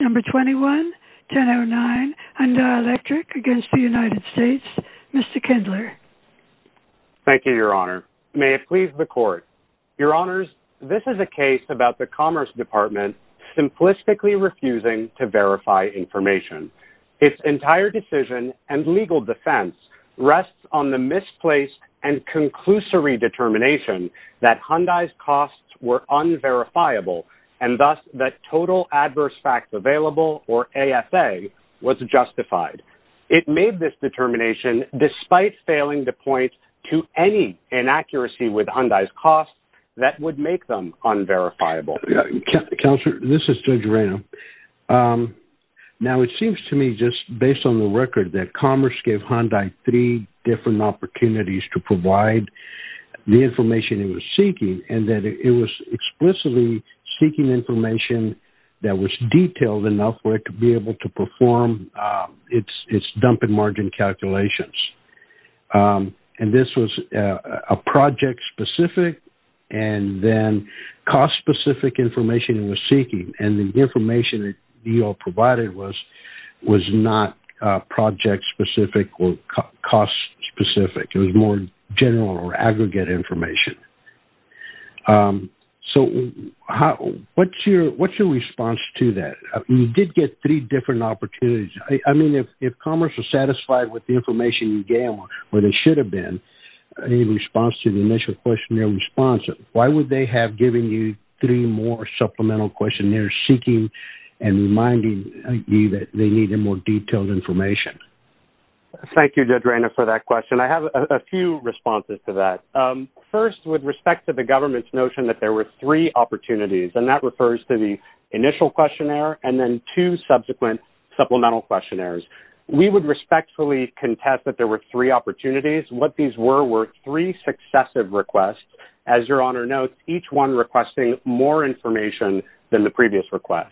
Number 21, 1009, Hyundai Electric v. United States. Mr. Kindler. Thank you, Your Honor. May it please the Court. Your Honors, this is a case about the Commerce Department simplistically refusing to verify information. Its entire decision and legal defense rests on the misplaced and conclusory determination that Hyundai's costs were unverifiable, and thus that Total Adverse Facts Available, or AFA, was justified. It made this determination despite failing to point to any inaccuracy with Hyundai's costs that would make them unverifiable. Counselor, this is Judge Reno. Now, it seems to me just based on the record that Commerce gave Hyundai three different opportunities to provide the information it was seeking, and that it was explicitly seeking information that was detailed enough for it to be able to perform its dump and margin calculations. And this was a project-specific and then cost-specific information it was seeking, and the information that DO provided was not project-specific or cost-specific. It was more general or aggregate information. So what's your response to that? You did get three different opportunities. I mean, if Commerce was satisfied with the information you gave them, or they should have been, in response to the initial questionnaire response, why would they have given you three more supplemental questionnaires seeking and reminding you that they needed more detailed information? Thank you, Judge Reno, for that question. I have a few responses to that. First, with respect to the government's notion that there were three opportunities, and that refers to the initial questionnaire and then two subsequent supplemental questionnaires, we would respectfully contest that there were three opportunities. What these were were three successive requests. As Your Honor notes, each one requesting more information than the previous request.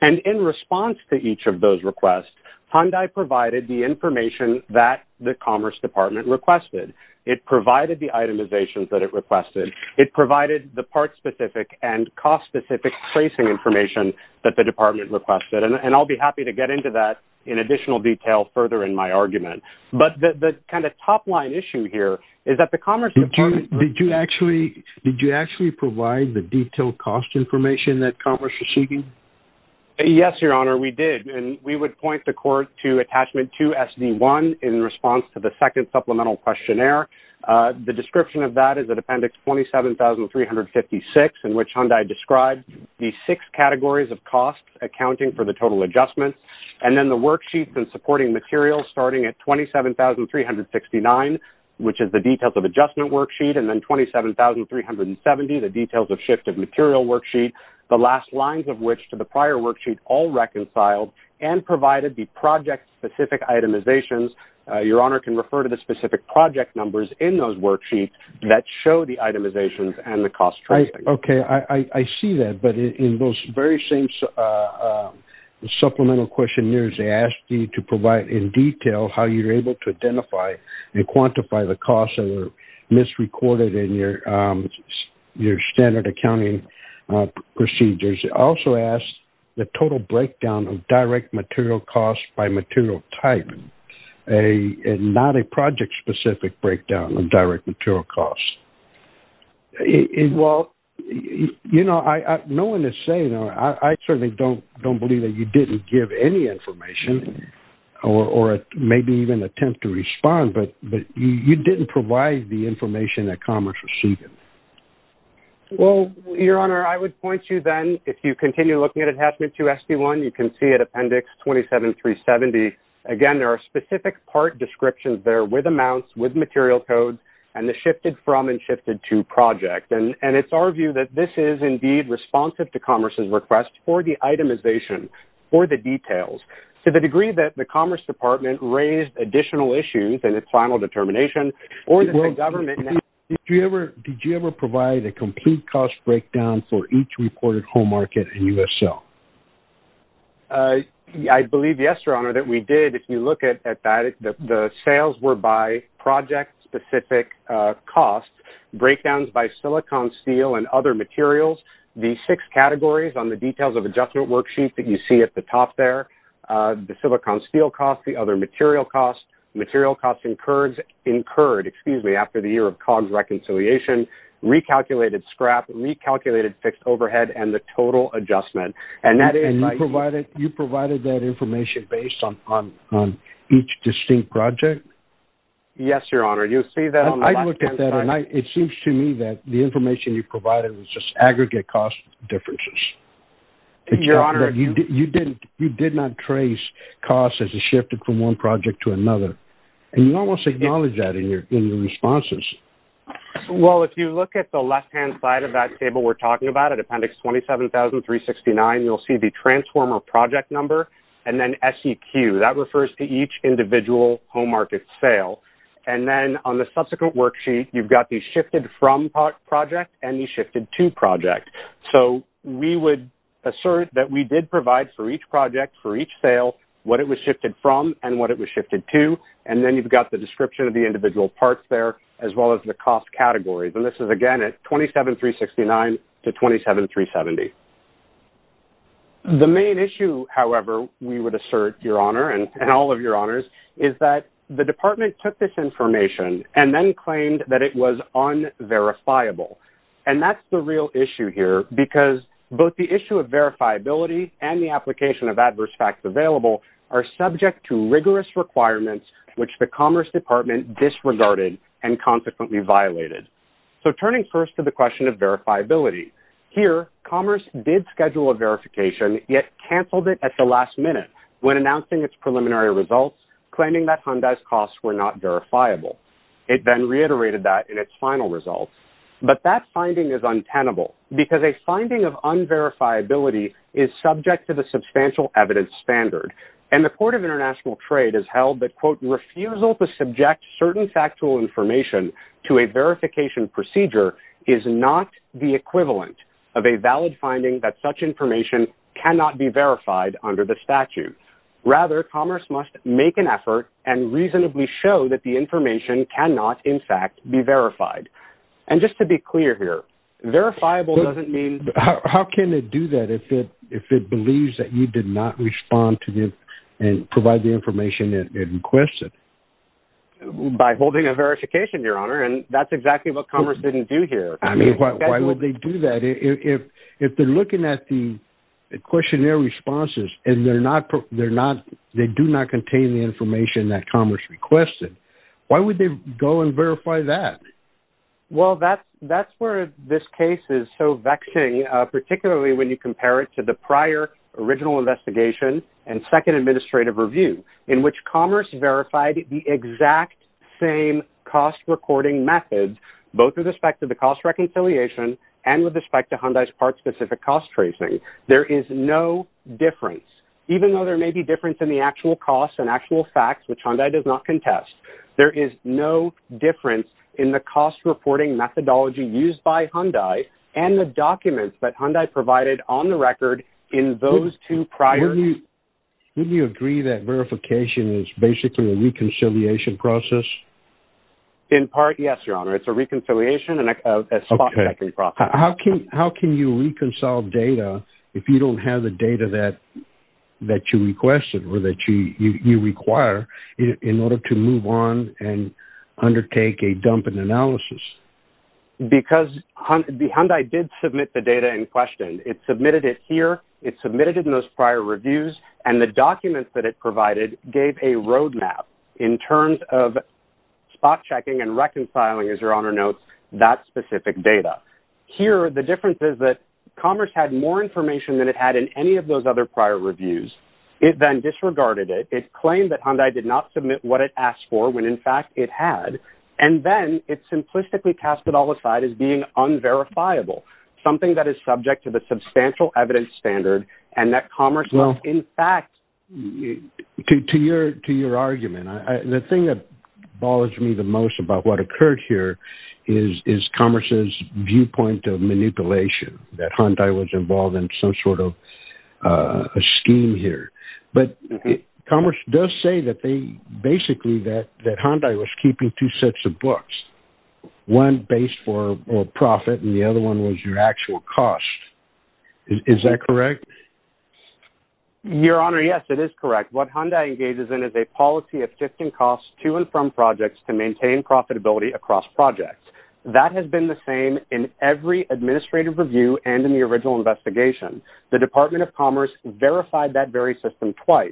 And in response to each of those requests, Hyundai provided the information that the Commerce Department requested. It provided the itemizations that it requested. It provided the part-specific and cost-specific tracing information that the Department requested. And I'll be happy to get into that in additional detail further in my argument. But the kind of top-line issue here is that the Commerce Department... Did you actually provide the detailed cost information that Commerce was seeking? Yes, Your Honor, we did. And we would point the court to Attachment 2, SD1, in response to the second supplemental questionnaire. The description of that is that Appendix 27,356, in which Hyundai described the six categories of costs accounting for the total adjustment, and then the worksheets and supporting materials starting at 27,369, which is the details of adjustment worksheet, and then 27,370, the details of shift of material worksheet, the last lines of which to the prior worksheet all reconciled and provided the project-specific itemizations. Your Honor can refer to the specific project numbers in those worksheets that show the itemizations and the cost tracing. Okay, I see that. But in those very same supplemental questionnaires, they ask you to provide in detail how you're able to identify and quantify the costs that are misrecorded in your standard accounting procedures. It also asks the total breakdown of direct material costs by material type, and not a project-specific breakdown of direct material costs. Well, you know, no one is saying, I certainly don't believe that you didn't give any information or maybe even attempt to respond, but you didn't provide the information that Commerce received it. Well, Your Honor, I would point you then, if you continue looking at Adjustment 2 SD1, you can see at Appendix 27,370, again, there are specific part descriptions there with amounts, with material codes, and the shifted from and shifted to project. And it's our view that this is, indeed, responsive to Commerce's request for the itemization, for the details. To the degree that the Commerce Department raised additional issues and its final determination, or that the government now- Did you ever provide a complete cost breakdown for each reported home market and U.S. sale? I believe, yes, Your Honor, that we did. If you look at that, the sales were by project-specific costs, breakdowns by silicon steel and other materials. The six categories on the Details of Adjustment Worksheet that you see at the top there, the silicon steel cost, the other material costs, material costs incurred after the year of COGS reconciliation, recalculated scrap, recalculated fixed overhead, and the total adjustment. And you provided that information based on each distinct project? Yes, Your Honor. You'll see that on the left-hand side. I looked at that, and it seems to me that the information you provided was just aggregate cost differences. Your Honor- You did not trace costs as it shifted from one project to another. And you almost acknowledged that in your responses. Well, if you look at the left-hand side of that table we're talking about, at Appendix 27,369, you'll see the transformer project number and then SEQ. That refers to each individual home market sale. And then on the subsequent worksheet, you've got the shifted from project and the shifted to project. So we would assert that we did provide for each project, for each sale, what it was shifted from and what it was shifted to, and then you've got the description of the individual parts there, as well as the cost categories. And this is, again, at 27,369 to 27,370. The main issue, however, we would assert, Your Honor, and all of your honors, is that the department took this information and then claimed that it was unverifiable. And that's the real issue here because both the issue of verifiability which the Commerce Department disregarded and consequently violated. So turning first to the question of verifiability, here Commerce did schedule a verification, yet canceled it at the last minute when announcing its preliminary results, claiming that Hyundai's costs were not verifiable. It then reiterated that in its final results. But that finding is untenable because a finding of unverifiability is subject to the substantial evidence standard. And the Court of International Trade has held that, quote, refusal to subject certain factual information to a verification procedure is not the equivalent of a valid finding that such information cannot be verified under the statute. Rather, Commerce must make an effort and reasonably show that the information cannot, in fact, be verified. And just to be clear here, verifiable doesn't mean... ...and provide the information it requested. By holding a verification, Your Honor, and that's exactly what Commerce didn't do here. I mean, why would they do that? If they're looking at the questionnaire responses and they do not contain the information that Commerce requested, why would they go and verify that? Well, that's where this case is so vexing, particularly when you compare it to the prior original investigation and second administrative review, in which Commerce verified the exact same cost-recording methods, both with respect to the cost reconciliation and with respect to Hyundai's part-specific cost tracing. There is no difference. Even though there may be difference in the actual costs and actual facts, which Hyundai does not contest, there is no difference in the cost-reporting methodology used by Hyundai and the documents that Hyundai provided on the record in those two prior... Wouldn't you agree that verification is basically a reconciliation process? In part, yes, Your Honor. It's a reconciliation and a spot-checking process. How can you reconcile data if you don't have the data that you requested or that you require in order to move on and undertake a dumping analysis? Because Hyundai did submit the data in question. It submitted it here, it submitted it in those prior reviews, and the documents that it provided gave a roadmap in terms of spot-checking and reconciling, as Your Honor notes, that specific data. Here, the difference is that Commerce had more information than it had in any of those other prior reviews. It then disregarded it. It claimed that Hyundai did not submit what it asked for, when, in fact, it had. And then it simplistically cast it all aside as being unverifiable, something that is subject to the substantial evidence standard and that Commerce was, in fact... To your argument, the thing that bothers me the most about what occurred here is Commerce's viewpoint of manipulation, that Hyundai was involved in some sort of a scheme here. But Commerce does say that they basically... that Hyundai was keeping two sets of books, one based for profit and the other one was your actual cost. Is that correct? Your Honor, yes, it is correct. What Hyundai engages in is a policy of shifting costs to and from projects to maintain profitability across projects. That has been the same in every administrative review and in the original investigation. The Department of Commerce verified that very system twice.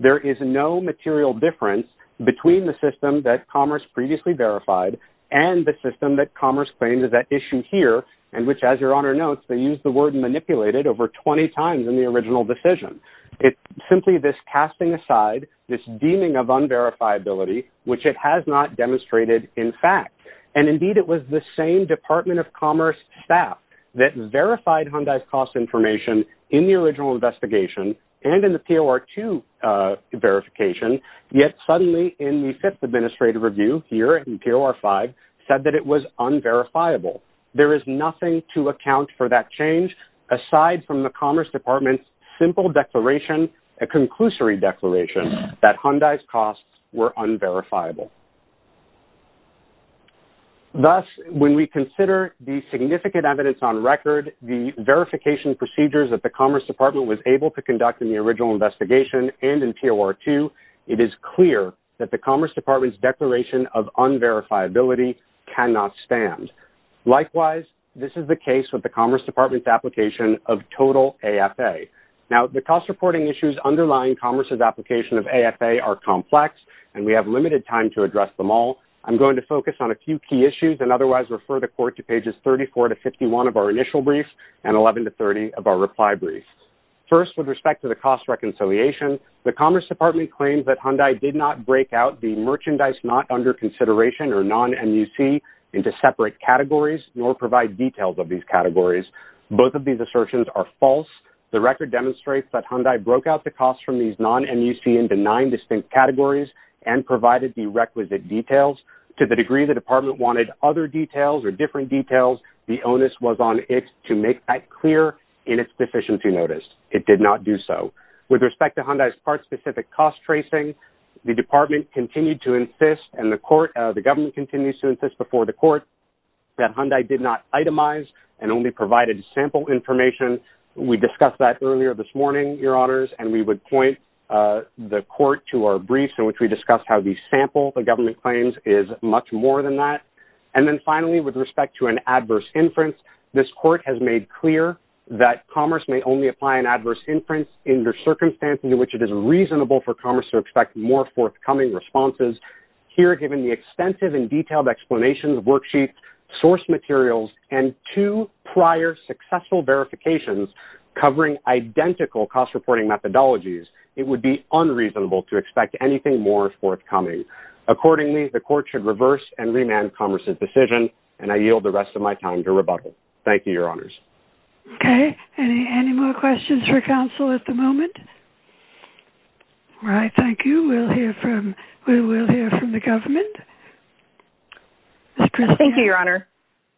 There is no material difference between the system that Commerce previously verified and the system that Commerce claims is at issue here, and which, as your Honor notes, they used the word manipulated over 20 times in the original decision. It's simply this casting aside, this deeming of unverifiability, which it has not demonstrated in fact. And, indeed, it was the same Department of Commerce staff that verified Hyundai's cost information in the original investigation and in the POR2 verification, yet suddenly in the fifth administrative review here in POR5 said that it was unverifiable. There is nothing to account for that change aside from the Commerce Department's simple declaration, a conclusory declaration, that Hyundai's costs were unverifiable. Thus, when we consider the significant evidence on record, the verification procedures that the Commerce Department was able to conduct in the original investigation and in POR2 it is clear that the Commerce Department's declaration of unverifiability cannot stand. Likewise, this is the case with the Commerce Department's application of total AFA. Now, the cost reporting issues underlying Commerce's application of AFA are complex, and we have limited time to address them all. I'm going to focus on a few key issues and otherwise refer the Court to pages 34 to 51 of our initial brief and 11 to 30 of our reply brief. First, with respect to the cost reconciliation, the Commerce Department claims that Hyundai did not break out the merchandise not under consideration, or non-MUC, into separate categories nor provide details of these categories. Both of these assertions are false. The record demonstrates that Hyundai broke out the costs from these non-MUC into nine distinct categories and provided the requisite details. To the degree the Department wanted other details or different details, the onus was on it to make that clear in its deficiency notice. It did not do so. With respect to Hyundai's part-specific cost tracing, the Department continued to insist and the Government continues to insist before the Court that Hyundai did not itemize and only provided sample information. We discussed that earlier this morning, Your Honors, and we would point the Court to our briefs in which we discussed how the sample the Government claims is much more than that. And then finally, with respect to an adverse inference, this Court has made clear that commerce may only apply an adverse inference in the circumstances in which it is reasonable for commerce to expect more forthcoming responses. Here, given the extensive and detailed explanations, worksheets, source materials, and two prior successful verifications covering identical cost-reporting methodologies, it would be unreasonable to expect anything more forthcoming. Accordingly, the Court should reverse and remand commerce's decision, and I yield the rest of my time to rebuttal. Thank you, Your Honors. Okay, any more questions for counsel at the moment? All right, thank you. We will hear from the Government. Thank you, Your Honor.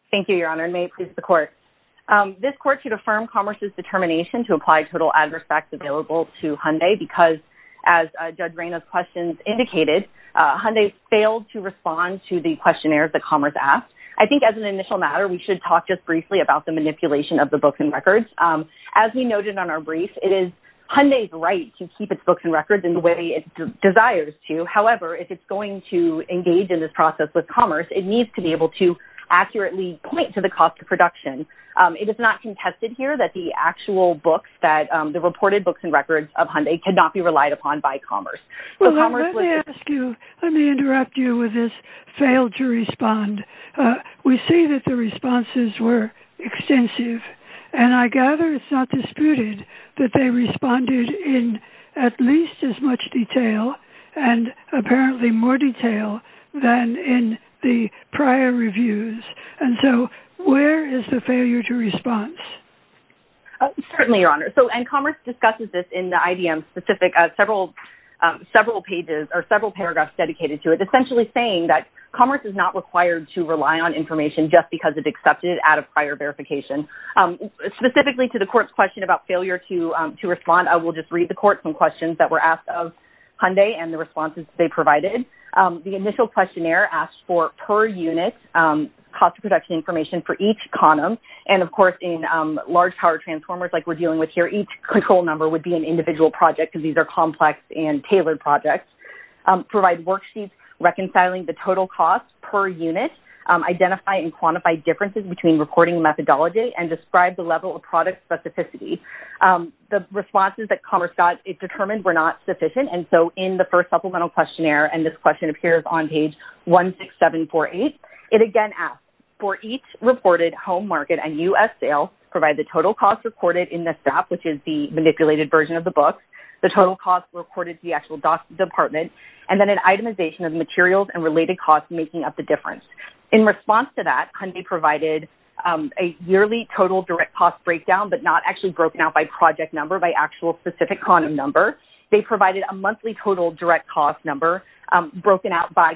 Thank you, Your Honor, and may it please the Court. This Court should affirm commerce's determination to apply total adverse facts available to Hyundai because, as Judge Reynaud's questions indicated, Hyundai failed to respond to the questionnaire that commerce asked. I think as an initial matter, we should talk just briefly about the manipulation of the books and records. As we noted on our brief, it is Hyundai's right to keep its books and records in the way it desires to. However, if it's going to engage in this process with commerce, it needs to be able to accurately point to the cost of production. It is not contested here that the actual books, the reported books and records of Hyundai, cannot be relied upon by commerce. Well, let me ask you, let me interrupt you with this failed to respond. We see that the responses were extensive, and I gather it's not disputed that they responded in at least as much detail and apparently more detail than in the prior reviews. And so where is the failure to response? Certainly, Your Honor. And commerce discusses this in the IDM specific, several pages or several paragraphs dedicated to it, essentially saying that commerce is not required to rely on information just because it's accepted out of prior verification. Specifically to the court's question about failure to respond, I will just read the court some questions that were asked of Hyundai and the responses they provided. The initial questionnaire asked for per unit cost of production information for each condom. And of course, in large power transformers like we're dealing with here, each control number would be an individual project because these are complex and tailored projects. Provide worksheets reconciling the total cost per unit. Identify and quantify differences between reporting methodology and describe the level of product specificity. The responses that commerce got it determined were not sufficient, and so in the first supplemental questionnaire, and this question appears on page 16748, it again asks for each reported home market and U.S. sale, provide the total cost reported in the SAP, which is the manipulated version of the book, the total cost reported to the actual department, and then an itemization of materials and related costs making up the difference. In response to that, Hyundai provided a yearly total direct cost breakdown but not actually broken out by project number, by actual specific condom number. They provided a monthly total direct cost number broken out by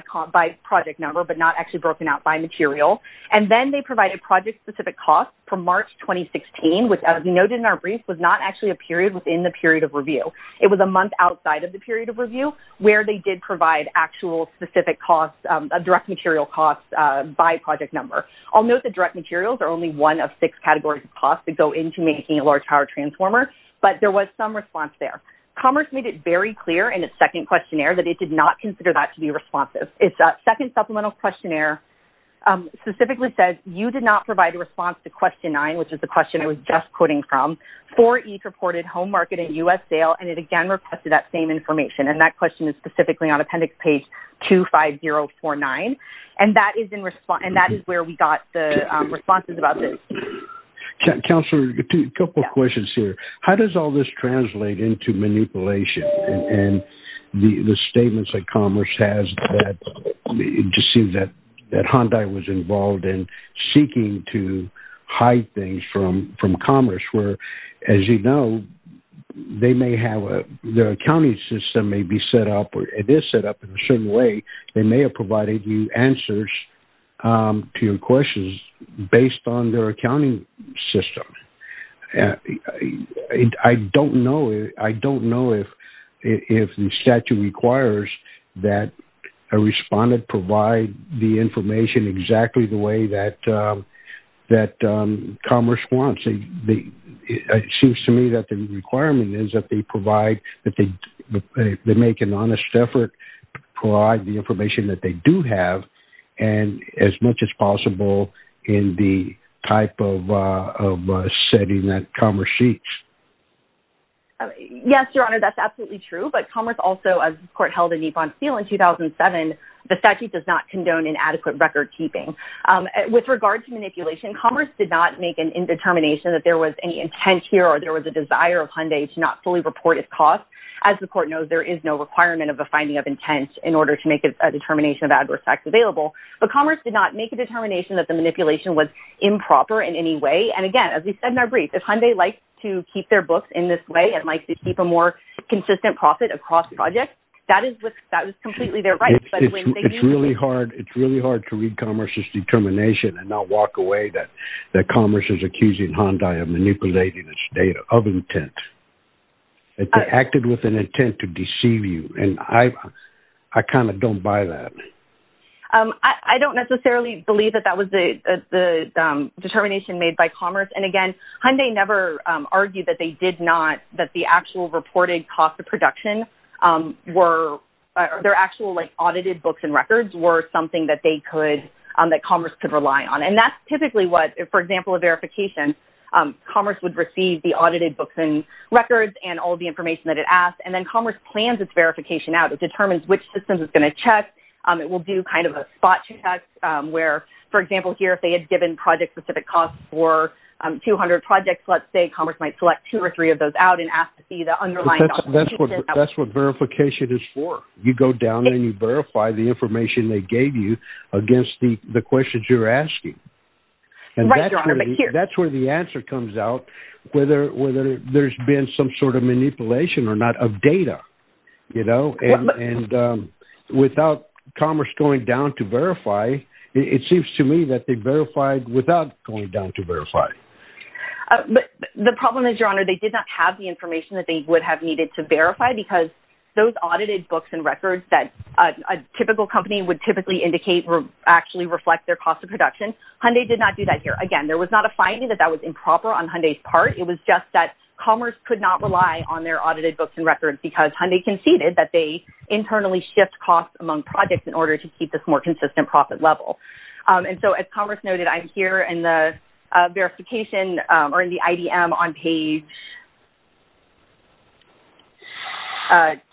project number but not actually broken out by material. And then they provided project specific costs for March 2016, which as noted in our brief, was not actually a period within the period of review. It was a month outside of the period of review where they did provide actual specific costs, direct material costs by project number. I'll note that direct materials are only one of six categories of costs that go into making a large power transformer, but there was some response there. Commerce made it very clear in its second questionnaire that it did not consider that to be responsive. Its second supplemental questionnaire specifically said you did not provide a response to question nine, which is the question I was just quoting from, for each reported home market and U.S. sale, and it again requested that same information. And that question is specifically on appendix page 25049. And that is where we got the responses about this. Councilor, a couple of questions here. How does all this translate into manipulation? And the statements that Commerce has that it just seems that Hyundai was involved in seeking to hide things from Commerce, where, as you know, their accounting system may be set up, or it is set up in a certain way. They may have provided you answers to your questions based on their accounting system. I don't know if the statute requires that a respondent provide the information exactly the way that Commerce wants. It seems to me that the requirement is that they provide, that they make an honest effort to provide the information that they do have and as much as possible in the type of setting that Commerce seeks. Yes, Your Honor, that's absolutely true. But Commerce also, as the court held in Yvonne Steel in 2007, the statute does not condone inadequate record keeping. With regard to manipulation, Commerce did not make an indetermination that there was any intent here or there was a desire of Hyundai to not fully report its costs. As the court knows, there is no requirement of a finding of intent in order to make a determination of adverse facts available. But Commerce did not make a determination that the manipulation was improper in any way. And again, as we said in our brief, if Hyundai likes to keep their books in this way and likes to keep a more consistent profit across projects, that is completely their right. It's really hard to read Commerce's determination and not walk away that Commerce is accusing Hyundai of manipulating its data of intent. They acted with an intent to deceive you and I kind of don't buy that. I don't necessarily believe that that was the determination made by Commerce. And again, Hyundai never argued that they did not, that the actual reported cost of production or their actual audited books and records were something that Commerce could rely on. And that's typically what, for example, a verification, Commerce would receive the audited books and records and all the information that it asked and then Commerce plans its verification out. It determines which systems it's going to check. It will do kind of a spot check where, for example here, if they had given project-specific costs for 200 projects, let's say Commerce might select two or three of those out That's what verification is for. You go down and you verify the information they gave you against the questions you're asking. And that's where the answer comes out whether there's been some sort of manipulation or not of data. And without Commerce going down to verify, it seems to me that they verified without going down to verify. The problem is, Your Honor, they did not have the information that they would have needed to verify because those audited books and records that a typical company would typically indicate actually reflect their cost of production. Hyundai did not do that here. Again, there was not a finding that that was improper on Hyundai's part. It was just that Commerce could not rely on their audited books and records because Hyundai conceded that they internally shift costs among projects in order to keep this more consistent profit level. And so as Commerce noted, I'm here in the verification or in the IDM on page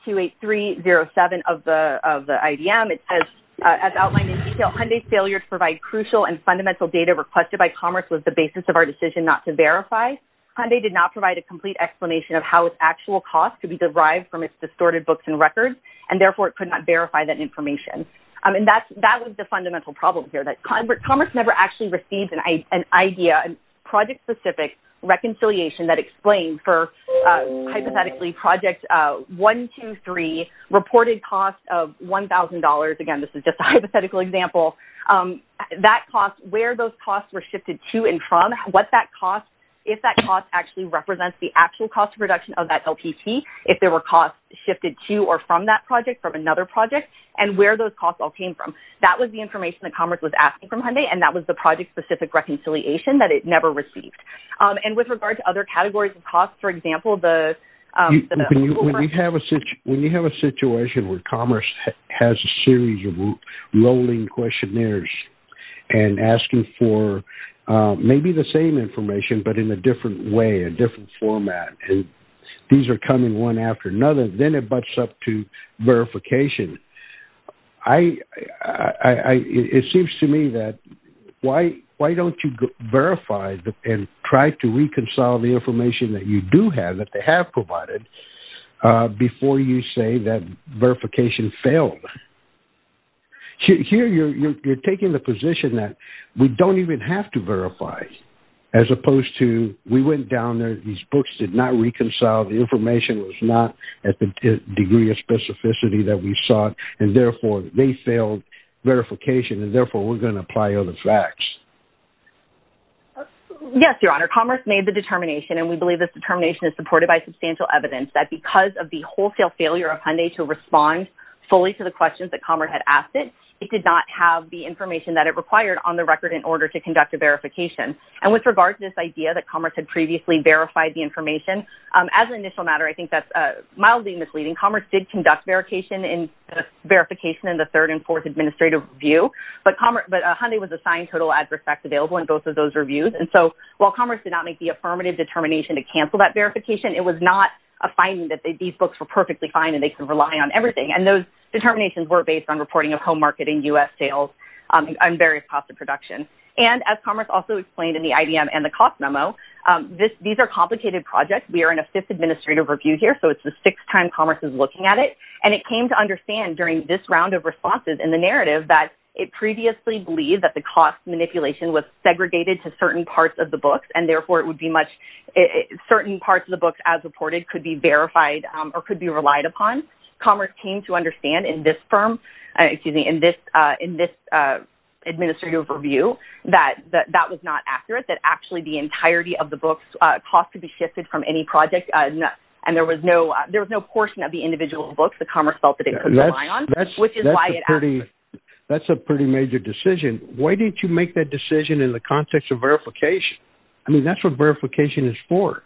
28307 of the IDM. It says, as outlined in detail, Hyundai's failure to provide crucial and fundamental data requested by Commerce was the basis of our decision not to verify. Hyundai did not provide a complete explanation of how its actual cost could be derived from its distorted books and records, and therefore it could not verify that information. And that was the fundamental problem here, that Commerce never actually received an idea, a project-specific reconciliation that explained for, hypothetically, Project 123 reported cost of $1,000. Again, this is just a hypothetical example. That cost, where those costs were shifted to and from, what that cost, if that cost actually represents the actual cost of production of that LPT, if there were costs shifted to or from that project, from another project, and where those costs all came from. That was the information that Commerce was asking from Hyundai, and that was the project-specific reconciliation that it never received. And with regard to other categories of costs, for example, the... When you have a situation where Commerce has a series of rolling questionnaires and asking for maybe the same information, but in a different way, a different format, and these are coming one after another, then it butts up to verification. I... It seems to me that why don't you verify and try to reconcile the information that you do have, that they have provided, before you say that verification failed? Here, you're taking the position that we don't even have to verify, as opposed to, we went down there, these books did not reconcile, the information was not at the degree of specificity that we sought, and therefore, they failed verification, and therefore, we're going to apply other facts. Yes, Your Honor. Commerce made the determination, and we believe this determination is supported by substantial evidence, that because of the wholesale failure of Hyundai to respond fully to the questions that Commerce had asked it, it did not have the information that it required on the record in order to conduct a verification. And with regard to this idea that Commerce had previously verified the information, as an initial matter, I think that's mildly misleading. Commerce did conduct verification in the third and fourth administrative review, but Hyundai was assigned total adverse effects available in both of those reviews, and so while Commerce did not make the affirmative determination to cancel that verification, it was not a finding that these books were perfectly fine and they could rely on everything, and those determinations were based on reporting of home marketing, U.S. sales, and various costs of production. And as Commerce also explained in the IDM and the cost memo, these are complicated projects. We are in a fifth administrative review here, so it's the sixth time Commerce is looking at it, and it came to understand during this round of responses in the narrative that it previously believed that the cost manipulation was segregated to certain parts of the books, and therefore it would be much... Certain parts of the books, as reported, could be verified or could be relied upon. Commerce came to understand in this firm... Excuse me, in this administrative review that that was not accurate, that actually the entirety of the books' cost could be shifted from any project, and there was no portion of the individual books that Commerce felt that it could rely on, which is why it... That's a pretty major decision. Why didn't you make that decision in the context of verification? I mean, that's what verification is for.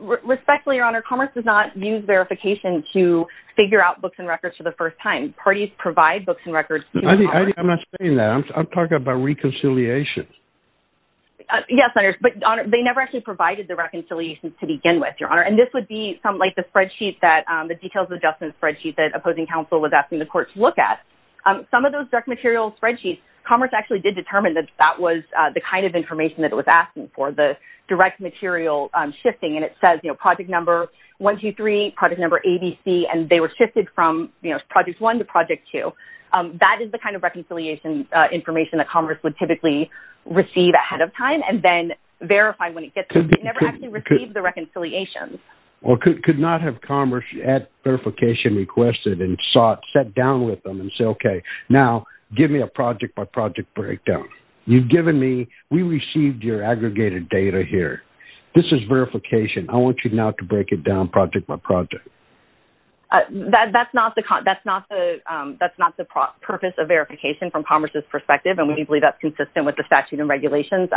Respectfully, Your Honor, Commerce does not use verification to figure out books and records for the first time. Parties provide books and records... I'm not saying that. I'm talking about reconciliation. Yes, but, Your Honor, they never actually provided the reconciliations to begin with, Your Honor, and this would be something like the spreadsheet that... The details adjustment spreadsheet that opposing counsel was asking the court to look at. Some of those direct material spreadsheets, Commerce actually did determine that that was the kind of information that it was asking for, the direct material shifting, and it says, you know, project number 123, project number ABC, and they were shifted from, you know, project one to project two. That is the kind of reconciliation information that Commerce would typically receive ahead of time and then verify when it gets to... They never actually received the reconciliations. Well, could not have Commerce, at verification requested and sought, sat down with them and say, okay, now give me a project-by-project breakdown. You've given me... We received your aggregated data here. This is verification. I want you now to break it down project-by-project. That's not the purpose of verification from Commerce's perspective, and we believe that's consistent with the statute and regulations,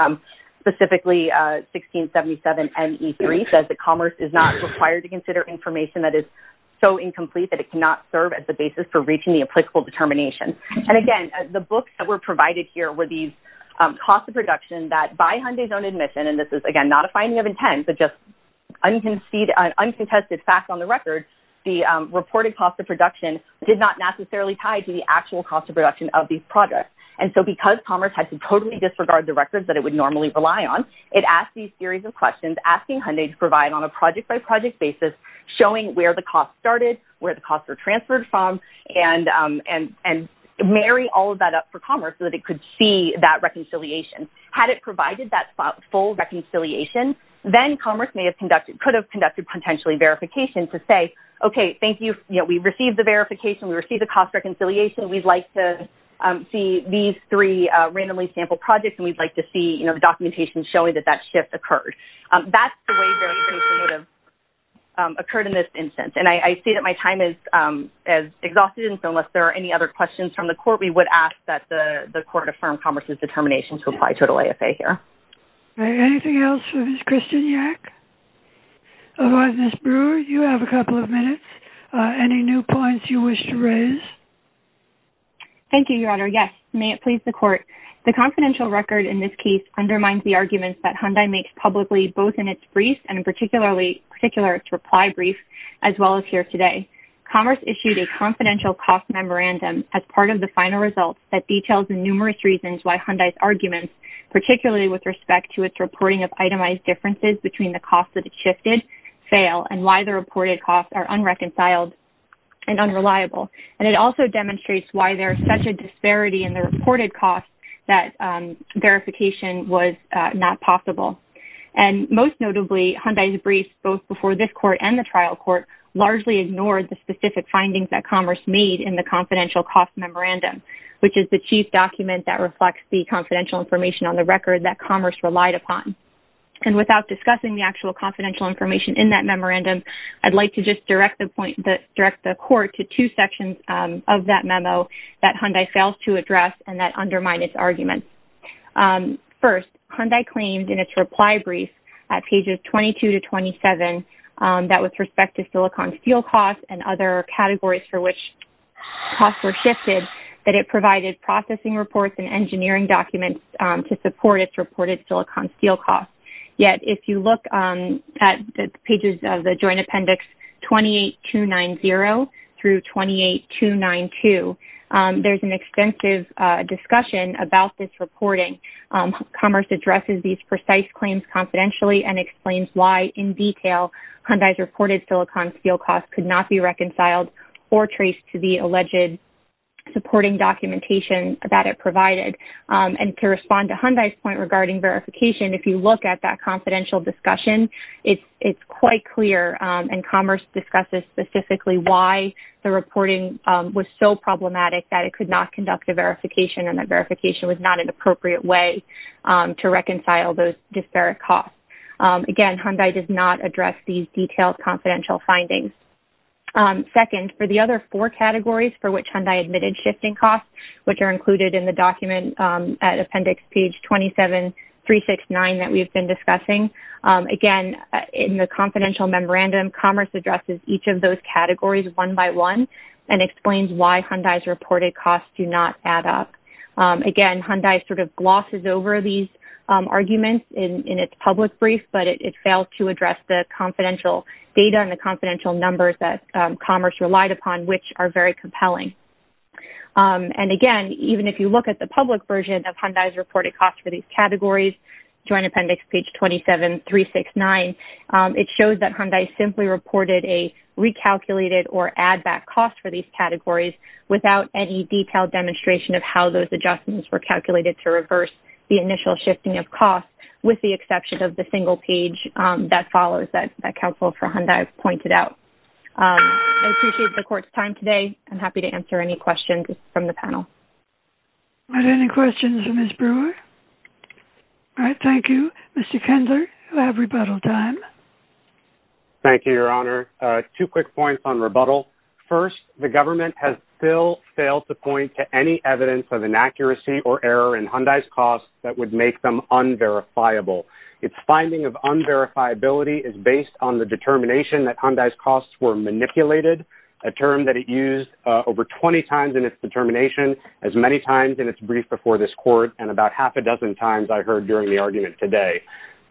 specifically 1677NE3 says that Commerce is not required to consider information that is so incomplete that it cannot serve as the basis for reaching the applicable determination. And again, the books that were provided here were these costs of production that by Hyundai's own admission, and this is, again, not a finding of intent, but just uncontested facts on the record, the reported cost of production did not necessarily tie to the actual cost of production of these projects, and so because Commerce had to totally disregard the records that it would normally rely on, it asked these series of questions, asking Hyundai to provide on a project-by-project basis showing where the costs started, where the costs were transferred from, and marry all of that up for Commerce so that it could see that reconciliation. Had it provided that full reconciliation, then Commerce could have conducted potentially verification to say, okay, thank you. We received the verification. We received the cost reconciliation. We'd like to see these three randomly sampled projects, and we'd like to see, you know, the documentation showing that that shift occurred. That's the way that it would have occurred in this instance, and I see that my time is exhausted, and so unless there are any other questions from the court, we would ask that the court affirm Commerce's determination to apply to an AFA here. Anything else for Ms. Kristeniak? Otherwise, Ms. Brewer, you have a couple of minutes. Any new points you wish to raise? Thank you, Your Honor. Yes, may it please the court. The confidential record in this case undermines the arguments that Hyundai makes publicly both in its brief and in particular its reply brief as well as here today. Commerce issued a confidential cost memorandum as part of the final results that details the numerous reasons why Hyundai's arguments, particularly with respect to its reporting of itemized differences between the costs that it shifted, fail, and why the reported costs are unreconciled and unreliable. And it also demonstrates why there is such a disparity in the reported costs that verification was not possible. And most notably, Hyundai's briefs both before this court and the trial court largely ignored the specific findings that Commerce made in the confidential cost memorandum, which is the chief document that reflects the confidential information on the record that Commerce relied upon. And without discussing the actual confidential information in that memorandum, I'd like to just direct the court to two sections of that memo that Hyundai fails to address and that undermine its arguments. First, Hyundai claimed in its reply brief at pages 22 to 27 that with respect to silicon steel costs and other categories for which costs were shifted that it provided processing reports and engineering documents to support its reported silicon steel costs. Yet, if you look at the pages of the joint appendix 28290 through 28292, there's an extensive discussion about this reporting. Commerce addresses these precise claims confidentially and explains why in detail Hyundai's reported silicon steel costs could not be reconciled or traced to the alleged supporting documentation that it provided. And to respond to Hyundai's point regarding verification, if you look at that confidential discussion, it's quite clear, and Commerce discusses specifically why the reporting was so problematic that it could not conduct a verification and that verification was not an appropriate way to reconcile those disparate costs. Again, Hyundai does not address these detailed confidential findings. Second, for the other four categories for which Hyundai admitted shifting costs, which are included in the document at appendix page 27369 that we've been discussing, again, in the confidential memorandum, Commerce addresses each of those categories one by one and explains why Hyundai's reported costs do not add up. Again, Hyundai sort of glosses over these arguments in its public brief, but it failed to address the confidential data and the confidential numbers that Commerce relied upon, which are very compelling. And again, even if you look at the public version of Hyundai's reported costs for these categories, joint appendix page 27369, it shows that Hyundai simply reported a recalculated or add-back cost for these categories without any detailed demonstration of how those adjustments were calculated to reverse the initial shifting of costs with the exception of the single page that follows that counsel for Hyundai pointed out. I appreciate the court's time today. I'm happy to answer any questions from the panel. Are there any questions for Ms. Brewer? All right, thank you. Mr. Kendler, you have rebuttal time. Thank you, Your Honor. Two quick points on rebuttal. First, the government has still failed to point to any evidence of inaccuracy or error in Hyundai's costs that would make them unverifiable. Its finding of unverifiability is based on the determination that Hyundai's costs were manipulated, a term that it used over 20 times in its determination, as many times in its brief before this court, and about half a dozen times I heard during the argument today.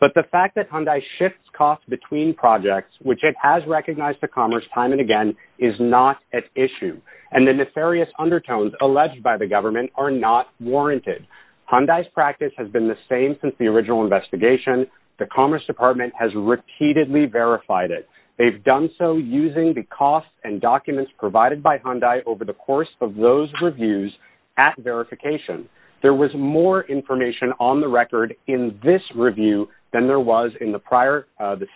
But the fact that Hyundai shifts costs between projects, which it has recognized to Commerce time and again, is not at issue. And the nefarious undertones alleged by the government are not warranted. Hyundai's practice has been the same since the original investigation. The Commerce Department has repeatedly verified it. They've done so using the costs and documents provided by Hyundai over the course of those reviews at verification. There was more information on the record in this review than there was in the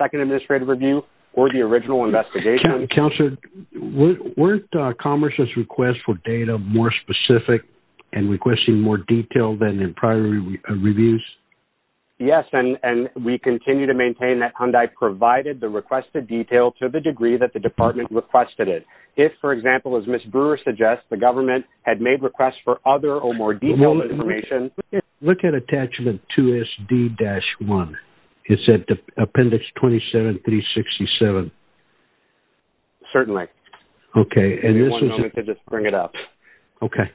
second administrative review or the original investigation. Counselor, weren't Commerce's requests for data more specific and requesting more detail than in prior reviews? Yes, and we continue to maintain that Hyundai provided the requested detail to the degree that the department requested it. If, for example, as Ms. Brewer suggests, the government had made requests for other or more detailed information. Look at attachment 2SD-1. It's at appendix 27367. Certainly. Okay. One moment to just bring it up. Okay.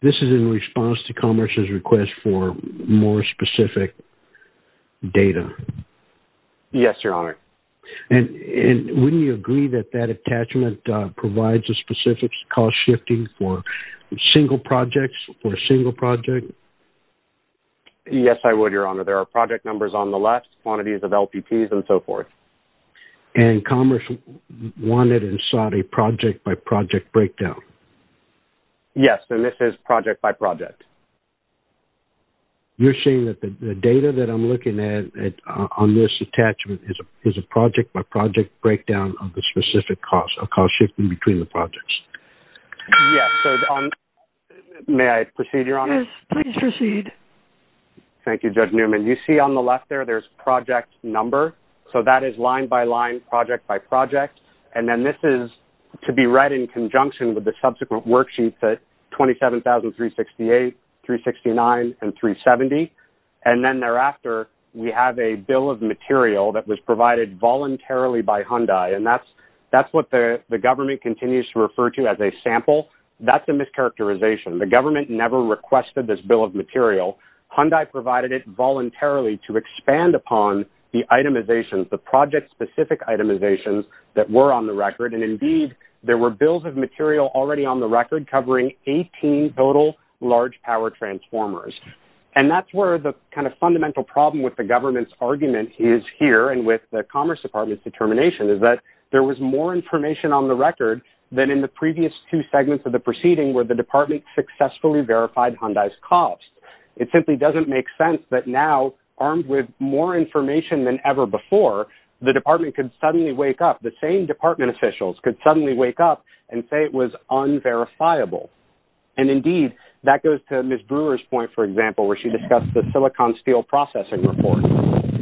This is in response to Commerce's request for more specific data. Yes, Your Honor. And wouldn't you agree that that attachment provides a specific cost shifting for single projects or a single project? Yes, I would, Your Honor. There are project numbers on the left, quantities of LPPs, and so forth. And Commerce wanted and sought a project-by-project breakdown. Yes, and this is project-by-project. You're saying that the data that I'm looking at on this attachment is a project-by-project breakdown of the specific cost or cost shifting between the projects? Yes. May I proceed, Your Honor? Yes, please proceed. Thank you, Judge Newman. You see on the left there, there's project number. So that is line-by-line, project-by-project. And then this is to be read in conjunction with the subsequent worksheets at 27,368, 369, and 370. And then thereafter, we have a bill of material that was provided voluntarily by Hyundai, and that's what the government continues to refer to as a sample. That's a mischaracterization. The government never requested this bill of material. Hyundai provided it voluntarily to expand upon the itemizations, the project-specific itemizations that were on the record. And indeed, there were bills of material already on the record covering 18 total large power transformers. And that's where the kind of fundamental problem with the government's argument is here and with the Commerce Department's determination is that there was more information on the record than in the previous two segments of the proceeding where the department successfully verified Hyundai's costs. It simply doesn't make sense that now, armed with more information than ever before, the department could suddenly wake up. The same department officials could suddenly wake up and say it was unverifiable. And indeed, that goes to Ms. Brewer's point, for example, where she discussed the silicon steel processing report.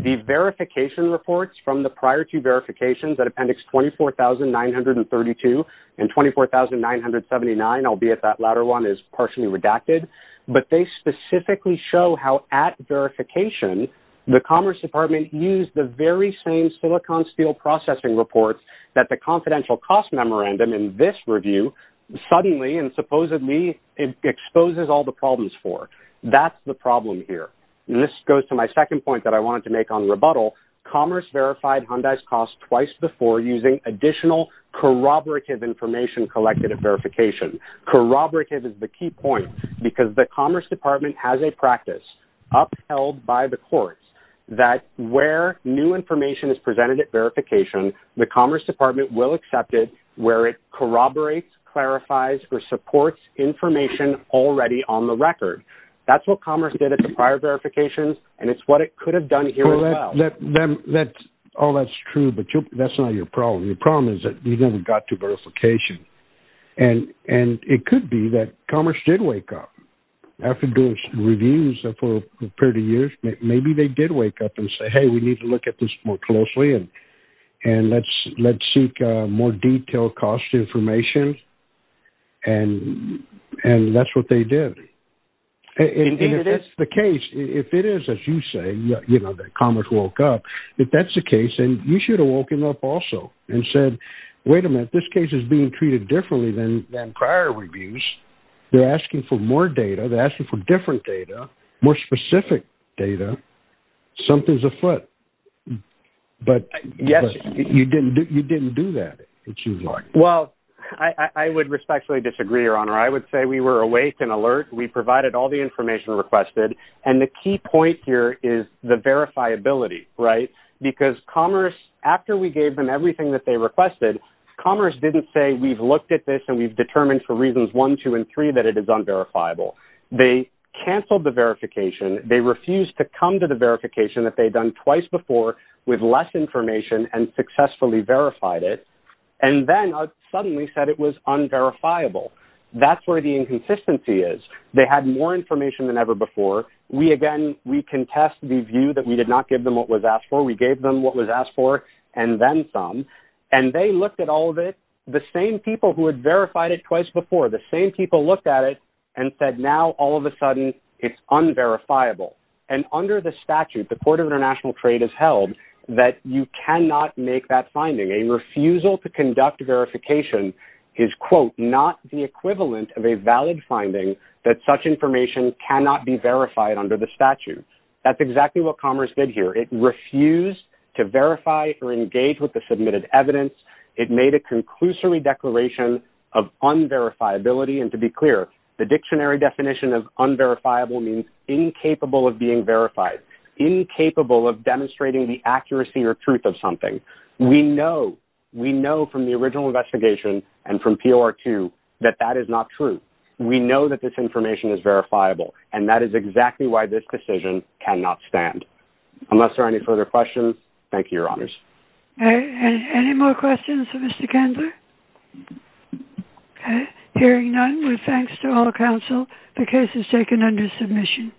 The verification reports from the prior two verifications at Appendix 24,932 and 24,979, albeit that latter one is partially redacted, but they specifically show how, at verification, the Commerce Department used the very same silicon steel processing report that the confidential cost memorandum in this review suddenly and supposedly exposes all the problems for. That's the problem here. And this goes to my second point that I wanted to make on rebuttal. Commerce verified Hyundai's costs twice before using additional corroborative information collected at verification. Corroborative is the key point because the Commerce Department has a practice upheld by the courts that where new information is presented at verification, the Commerce Department will accept it where it corroborates, clarifies, or supports information already on the record. That's what Commerce did at the prior verifications, and it's what it could have done here as well. All that's true, but that's not your problem. Your problem is that you haven't got to verification. And it could be that Commerce did wake up. After doing reviews for a period of years, maybe they did wake up and say, hey, we need to look at this more closely and let's seek more detailed cost information, and that's what they did. Indeed it is. And if that's the case, if it is, as you say, that Commerce woke up, if that's the case, then you should have woken up also and said, wait a minute, this case is being treated differently than prior reviews. They're asking for more data. They're asking for different data, more specific data. Something's afoot. Yes. But you didn't do that, it seems like. Well, I would respectfully disagree, Your Honor. I would say we were awake and alert. We provided all the information requested, and the key point here is the verifiability, right? Because Commerce, after we gave them everything that they requested, Commerce didn't say we've looked at this and we've determined for reasons one, two, and three that it is unverifiable. They canceled the verification. They refused to come to the verification that they'd done twice before with less information and successfully verified it, and then suddenly said it was unverifiable. That's where the inconsistency is. They had more information than ever before. We, again, we contest the view that we did not give them what was asked for. We gave them what was asked for and then some, and they looked at all of it, the same people who had verified it twice before, the same people looked at it and said now all of a sudden it's unverifiable. And under the statute, the Court of International Trade has held that you cannot make that finding. A refusal to conduct verification is, quote, not the equivalent of a valid finding that such information cannot be verified under the statute. That's exactly what Commerce did here. It refused to verify or engage with the submitted evidence. It made a conclusory declaration of unverifiability, and to be clear, the dictionary definition of unverifiable means incapable of being verified, incapable of demonstrating the accuracy or truth of something. We know, we know from the original investigation and from POR2 that that is not true. We know that this information is verifiable, and that is exactly why this decision cannot stand. Unless there are any further questions, thank you, Your Honors. Any more questions for Mr. Kendler? Hearing none, with thanks to all counsel, the case is taken under submission.